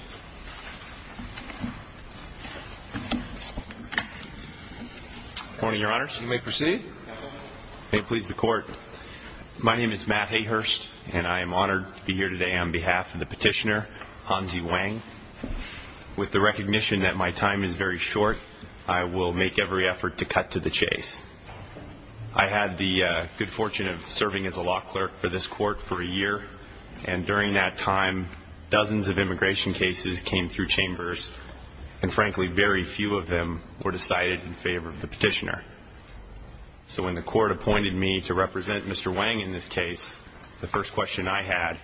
Good morning, Your Honors. You may proceed. May it please the Court. My name is Matt Hayhurst, and I am honored to be here today on behalf of the petitioner, Hansi Wang. With the recognition that my time is very short, I will make every effort to cut to the chase. I had the good time. Dozens of immigration cases came through chambers, and frankly, very few of them were decided in favor of the petitioner. So when the Court appointed me to represent Mr. Wang in this case, the first question I had,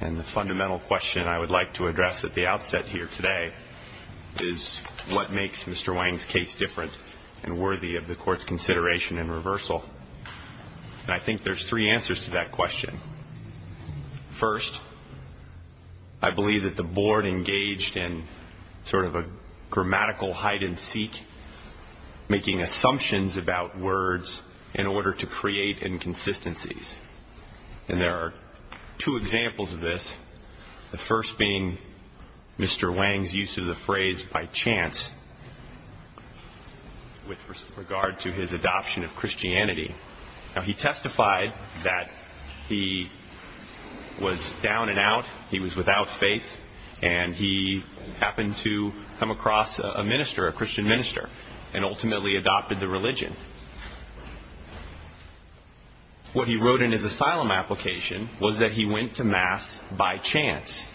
and the fundamental question I would like to address at the outset here today, is what makes Mr. Wang's case different and worthy of the Court's I believe that the Board engaged in sort of a grammatical hide-and-seek, making assumptions about words in order to create inconsistencies. And there are two examples of this, the first being Mr. Wang's use of the phrase, by chance, with regard to his adoption of Christianity. Now, he testified that he was down and out, he was without faith, and he happened to come across a minister, a Christian minister, and ultimately adopted the religion. What he wrote in his asylum application was that he went to Mass by chance.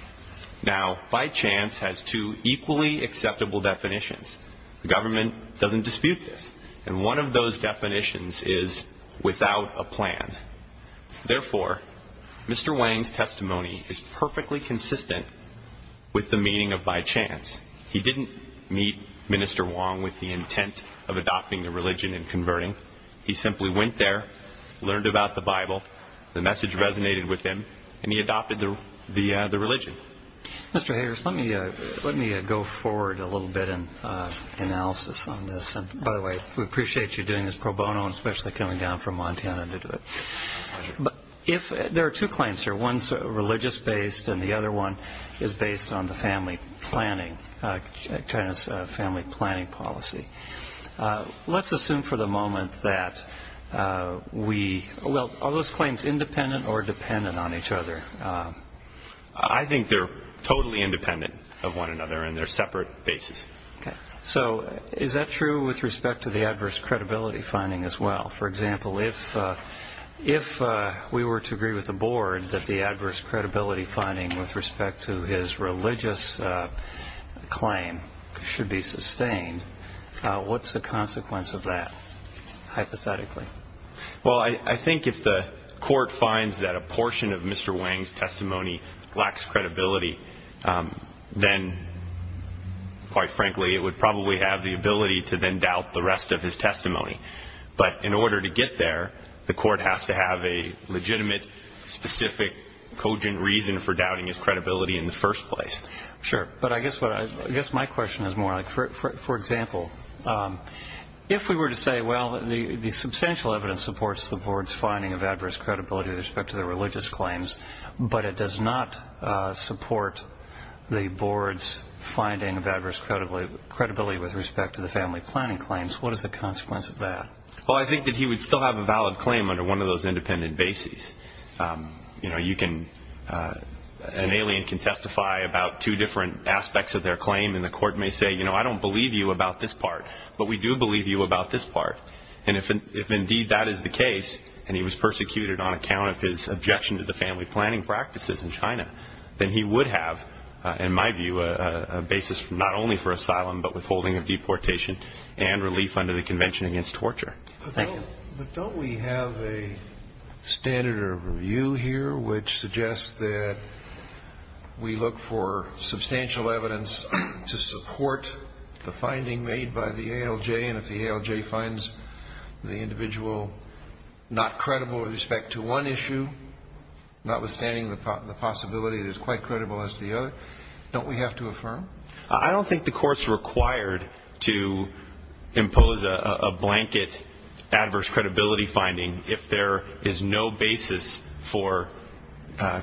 Now, by chance has two equally acceptable definitions. The government doesn't dispute this, and one of those definitions is without a plan. Therefore, Mr. Wang's testimony is perfectly consistent with the meaning of by chance. He didn't meet Minister Wong with the intent of adopting the religion and converting. He simply went there, learned about the Bible, the message resonated with him, and he adopted the religion. Mr. Hayrus, let me go forward a little bit in analysis on this. And by the way, we appreciate you doing this pro bono and especially coming down from Montana to do it. There are two claims here. One's religious-based, and the other one is based on China's family planning policy. Let's assume for the moment that we, well, are those claims independent or dependent on each other? I think they're totally independent of one another, and they're separate bases. So is that true with respect to the adverse credibility finding as well? For example, if we were to agree with the board that the adverse credibility finding with respect to his religious claim should be sustained, what's the consequence of that, hypothetically? Well, I think if the court finds that a portion of Mr. Wang's testimony lacks credibility, then, quite frankly, it would probably have the ability to then doubt the rest of his testimony. But in order to get there, the court has to have a legitimate, specific, cogent reason for doubting his credibility in the first place. Sure. But I guess my question is more like, for example, if we were to say, well, the substantial evidence supports the board's finding of adverse credibility with respect to the religious claims, but it does not support the board's finding of adverse credibility with respect to the family planning claims, what is the consequence of that? Well, I think that he would still have a valid claim under one of those independent bases. An alien can testify about two different aspects of their claim, and the court may say, you know, I don't believe you about this part, but we do believe you about this part. And if indeed that is the case, and he was persecuted on account of his objection to the family planning practices in China, then he would have, in my view, a basis not only for asylum but withholding of deportation and relief under the Convention Against Torture. Thank you. But don't we have a standard of review here which suggests that we look for substantial evidence to support the individual not credible with respect to one issue, notwithstanding the possibility that he's quite credible as to the other? Don't we have to affirm? I don't think the court's required to impose a blanket adverse credibility finding if there is no basis for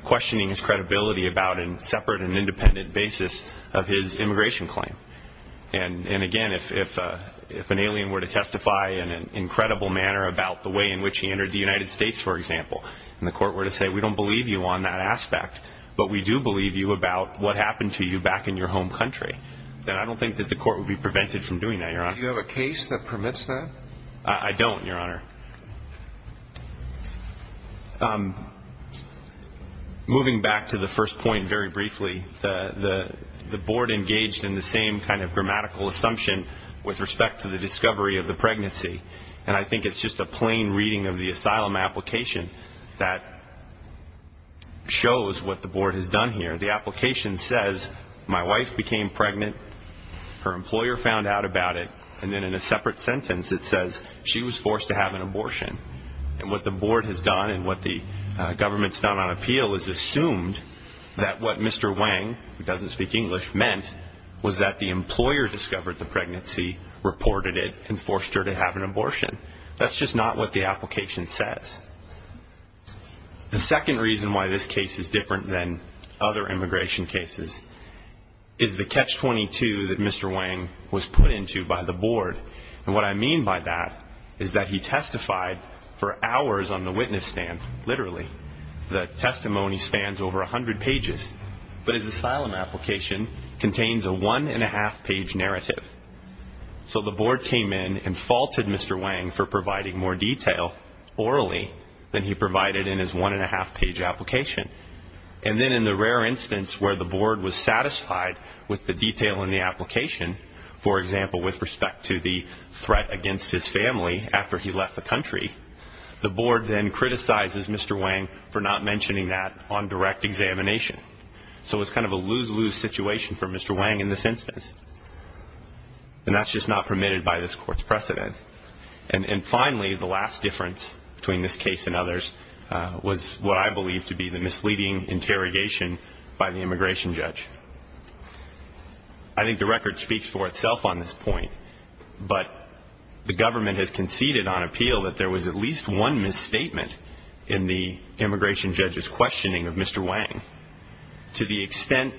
questioning his credibility about a separate and independent basis of his immigration claim. And again, if an alien were to testify in an incredible manner about the way in which he entered the United States, for example, and the court were to say, we don't believe you on that aspect, but we do believe you about what happened to you back in your home country, then I don't think that the court would be prevented from doing that, Your Honor. Do you have a case that permits that? I don't, Your Honor. Moving back to the first point very briefly, the board engaged in the same kind of grammatical assumption with respect to the discovery of the pregnancy. And I think it's just a plain reading of the asylum application that shows what the board has done here. The application says, my wife became pregnant, her employer found out about it, and then in a separate sentence, it says, she was forced to have an abortion. And what the board has done and what the government's done on appeal is assumed that what Mr. Wang, who doesn't speak English, meant was that the employer discovered the pregnancy, reported it, and forced her to have an abortion. That's just not what the application says. The second reason why this case is different than other immigration cases is the catch 22 that Mr. Wang was put into by the board. And what I mean by that is that he testified for hours on the witness stand, literally. The testimony spans over 100 pages. But his asylum application contains a one-and-a-half-page narrative. So the board came in and faulted Mr. Wang for providing more detail orally than he provided in his one-and-a-half-page application. And then in the rare instance where the board was satisfied with the detail in the application, for example, with respect to the threat against his family after he left the country, the board then criticizes Mr. Wang for not mentioning that on direct examination. So it's kind of a lose-lose situation for Mr. Wang in this instance. And that's just not permitted by this court's precedent. And finally, the last difference between this case and the others is the misleading interrogation by the immigration judge. I think the record speaks for itself on this point. But the government has conceded on appeal that there was at least one misstatement in the immigration judge's questioning of Mr. Wang. To the extent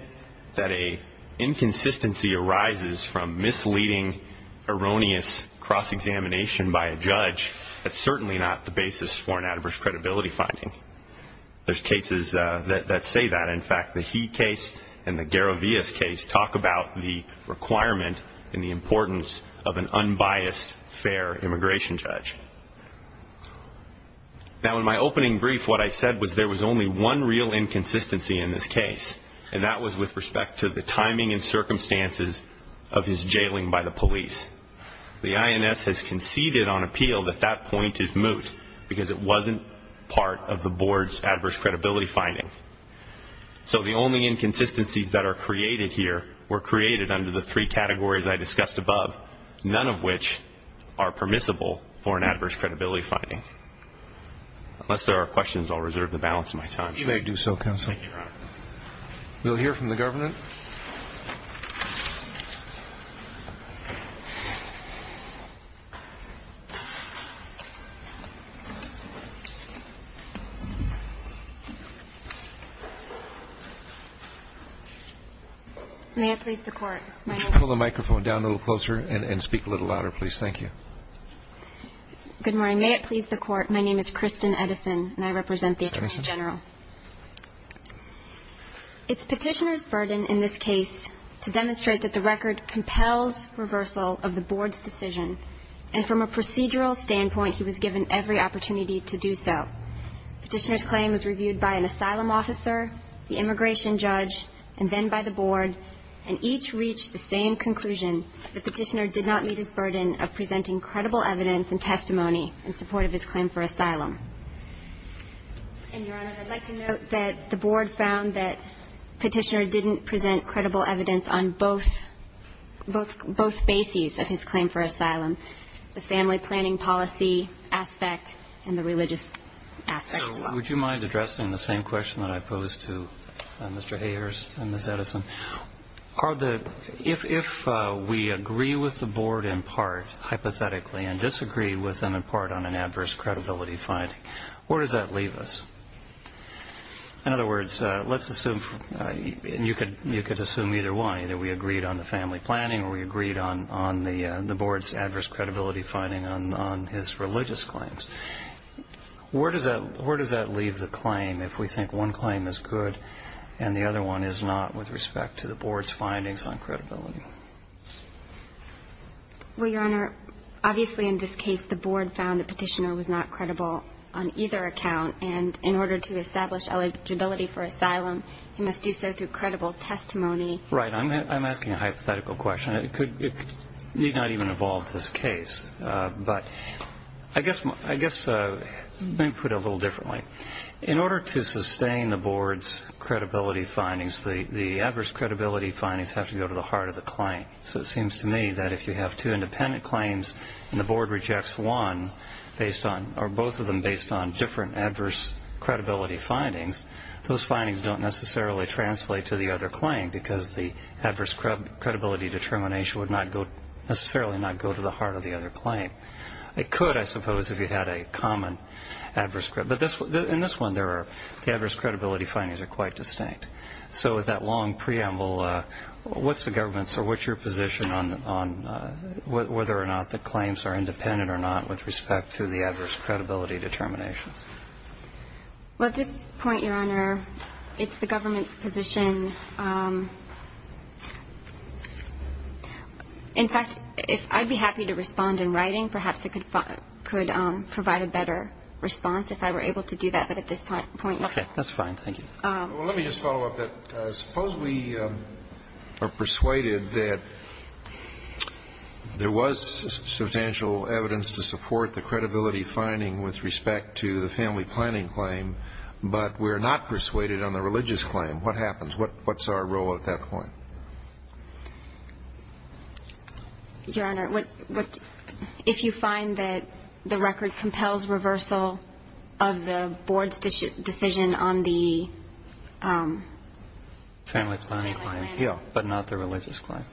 that an inconsistency arises from misleading, erroneous cross-examination by a judge, that's cases that say that. In fact, the He case and the Garavias case talk about the requirement and the importance of an unbiased, fair immigration judge. Now, in my opening brief, what I said was there was only one real inconsistency in this case, and that was with respect to the timing and circumstances of his jailing by the police. The INS has found that there was an adverse credibility finding. So the only inconsistencies that are created here were created under the three categories I discussed above, none of which are permissible for an adverse credibility finding. Unless there are questions, I'll reserve the balance of my time. Roberts. You may do so, counsel. May it please the Court, my name is Kristen Edison, and I represent the Attorney General. It's Petitioner's burden in this case to demonstrate that the record compels reversal of the Board's decision, and from a procedural standpoint, he was given every opportunity to do so. Petitioner's claim for asylum was presented by an asylum officer, the immigration judge, and then by the Board, and each reached the same conclusion that Petitioner did not meet his burden of presenting credible evidence and testimony in support of his claim for asylum. And, Your Honor, I'd like to note that the Board found that Petitioner didn't present credible evidence on both bases of his claim for asylum, the family planning policy aspect and the religious aspect as well. So would you mind addressing the same question that I posed to Mr. Hayhurst and Ms. Edison? If we agree with the Board in part, hypothetically, and disagree with them in part on an adverse credibility finding, where does that leave us? In other words, let's assume, and you could assume either way, that we agreed on the family planning or we agreed on the Board's adverse credibility finding on his religious claims. Where does that leave the claim, if we think one claim is good and the other one is not with respect to the Board's findings on credibility? Well, Your Honor, obviously in this case the Board found that Petitioner was not credible on either account, and in order to establish eligibility for asylum, he must do so through credible testimony. Right. I'm asking a hypothetical question. It need not even involve this case. But I guess, let me put it a little differently. In order to sustain the Board's credibility findings, the adverse credibility findings have to go to the heart of the claim. So it seems to me that if you have two independent claims and the Board rejects one, or both of them based on different adverse credibility findings, those findings don't necessarily translate to the other claim, because the adverse credibility determination would necessarily not go to the heart of the other claim. It could, I suppose, if you had a common adverse credibility. But in this one, the adverse credibility findings are quite distinct. So with that long preamble, what's the Government's or what's your position on whether or not the claims are independent or not with respect to the adverse credibility determinations? Well, at this point, Your Honor, it's the Government's position. In fact, if I'd be happy to respond in writing, perhaps it could provide a better response if I were able to do that. But at this point, no. Okay. That's fine. Thank you. Well, let me just follow up that. Suppose we are persuaded that there was substantial evidence to support the credibility finding with respect to the family planning claim, but we're not persuaded on the religious claim. What happens? What's our role at that point? Your Honor, if you find that the record compels reversal of the Board's decision on the family planning claim, but not the religious claim?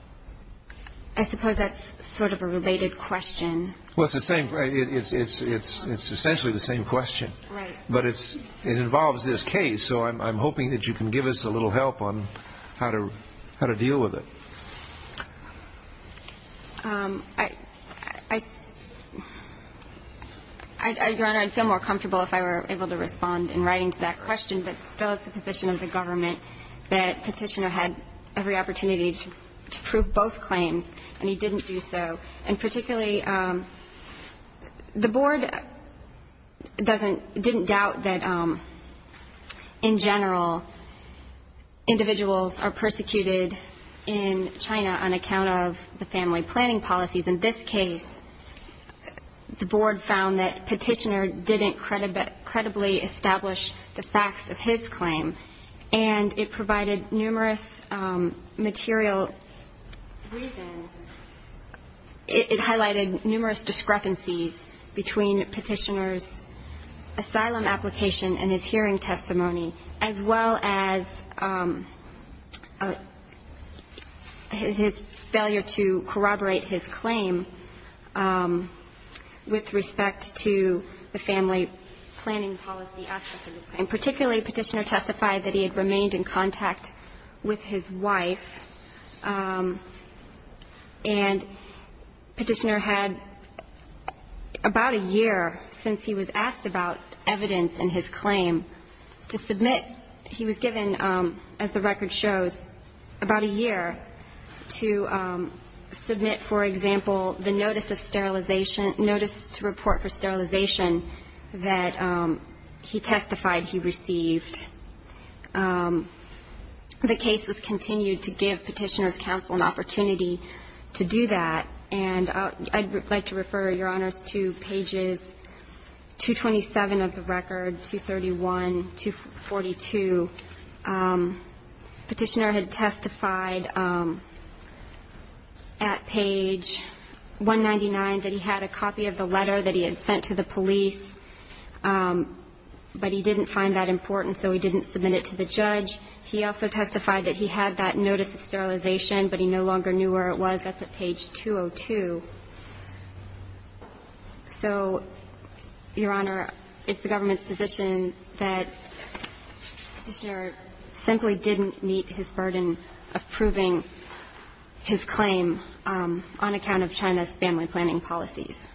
I suppose that's sort of a related question. Well, it's the same. It's essentially the same question. Right. But it involves this case. So I'm hoping that you can give us a little help on how to deal with it. Your Honor, I'd feel more comfortable if I were able to respond in writing to that question, but still it's the position of the Government that Petitioner had every opportunity to prove both claims, and he didn't do so. And particularly, the Board doesn't — didn't doubt that, in general, individuals are persecuted in China on account of the family planning policies. In this case, the Board found that Petitioner didn't credibly establish the facts of his claim, and it provided numerous material reasons — it highlighted numerous discrepancies between Petitioner's asylum application and his hearing testimony, as well as his failure to corroborate his claim with respect to the family planning policy aspect of his claim. Particularly, Petitioner testified that he had remained in contact with his wife, and Petitioner had about a year since he was asked about evidence in his claim to submit — he was given, as the record shows, about a year to submit, for example, the notice of sterilization — notice to report for sterilization that he testified he received. The case was continued to give Petitioner's counsel an opportunity to do that, and I'd like to refer, Your Honor, to pages 227 of the record, 231, 242. Petitioner had testified at page 199 that he had a copy of the letter that he had sent to the police, but he didn't find that important, so he didn't submit it to the judge. He also testified that he had that notice of sterilization, but he no longer knew where it was. That's at page 202. So, Your Honor, it's the government's position that Petitioner simply didn't meet his burden of proving his claim on account of China's family planning policies.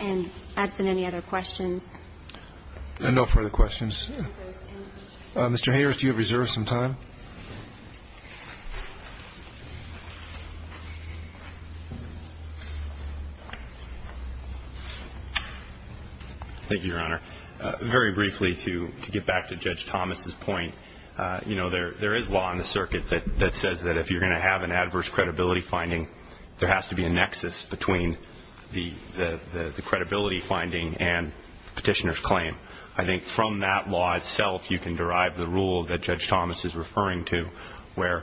And absent any other questions? No further questions. Mr. Hayworth, you have reserved some time. Thank you, Your Honor. Very briefly, to get back to Judge Thomas's point, you know, there is law in the circuit that says that if you're going to have an adverse credibility finding, there has to be a nexus between the credibility finding and Petitioner's claim. I think from that law, itself, you can derive the rule that Judge Thomas is referring to, where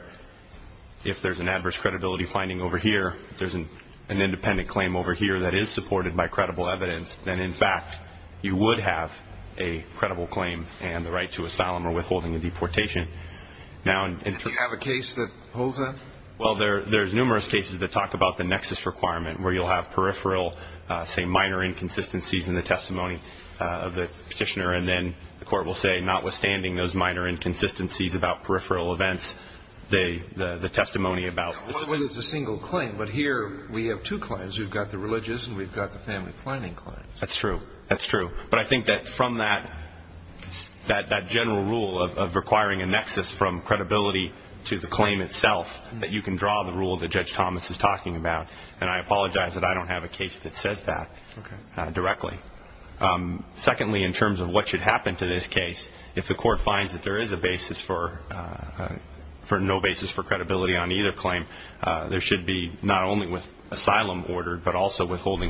if there's an adverse credibility finding over here, if there's an independent claim over here that is supported by credible evidence, then, in fact, you would have a credible claim and the right to asylum or withholding of deportation. Do you have a case that holds that? Well, there's numerous cases that talk about the nexus requirement, where you'll have peripheral, say, minor inconsistencies in the testimony of the Petitioner, and then the court will say, notwithstanding those minor inconsistencies about peripheral events, the testimony about the single claim. But here we have two claims. We've got the religious and we've got the family planning claims. That's true. That's true. But I think that from that general rule of requiring a nexus from credibility to the claim itself, that you can draw the rule that Judge Thomas is talking about. And I apologize that I don't have a case that says that directly. Secondly, in terms of what should happen to this case, if the court finds that there is a basis for no basis for credibility on either claim, there is a reasonable basis for a credibility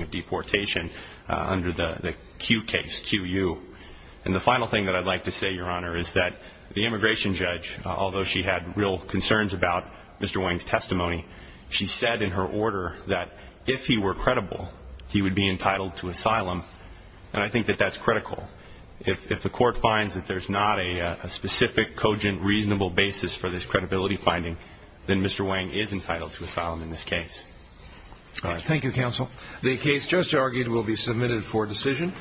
finding under the Q case, QU. And the final thing that I'd like to say, Your Honor, is that the immigration judge, although she had real concerns about Mr. Wang's testimony, she said in her order that if he were credible, he would be entitled to asylum, and I think that that's critical. If the court finds that there's not a specific, cogent, reasonable basis for this credibility finding, then Mr. Wang is entitled to asylum in this case. Thank you, counsel. The case just argued will be submitted for decision.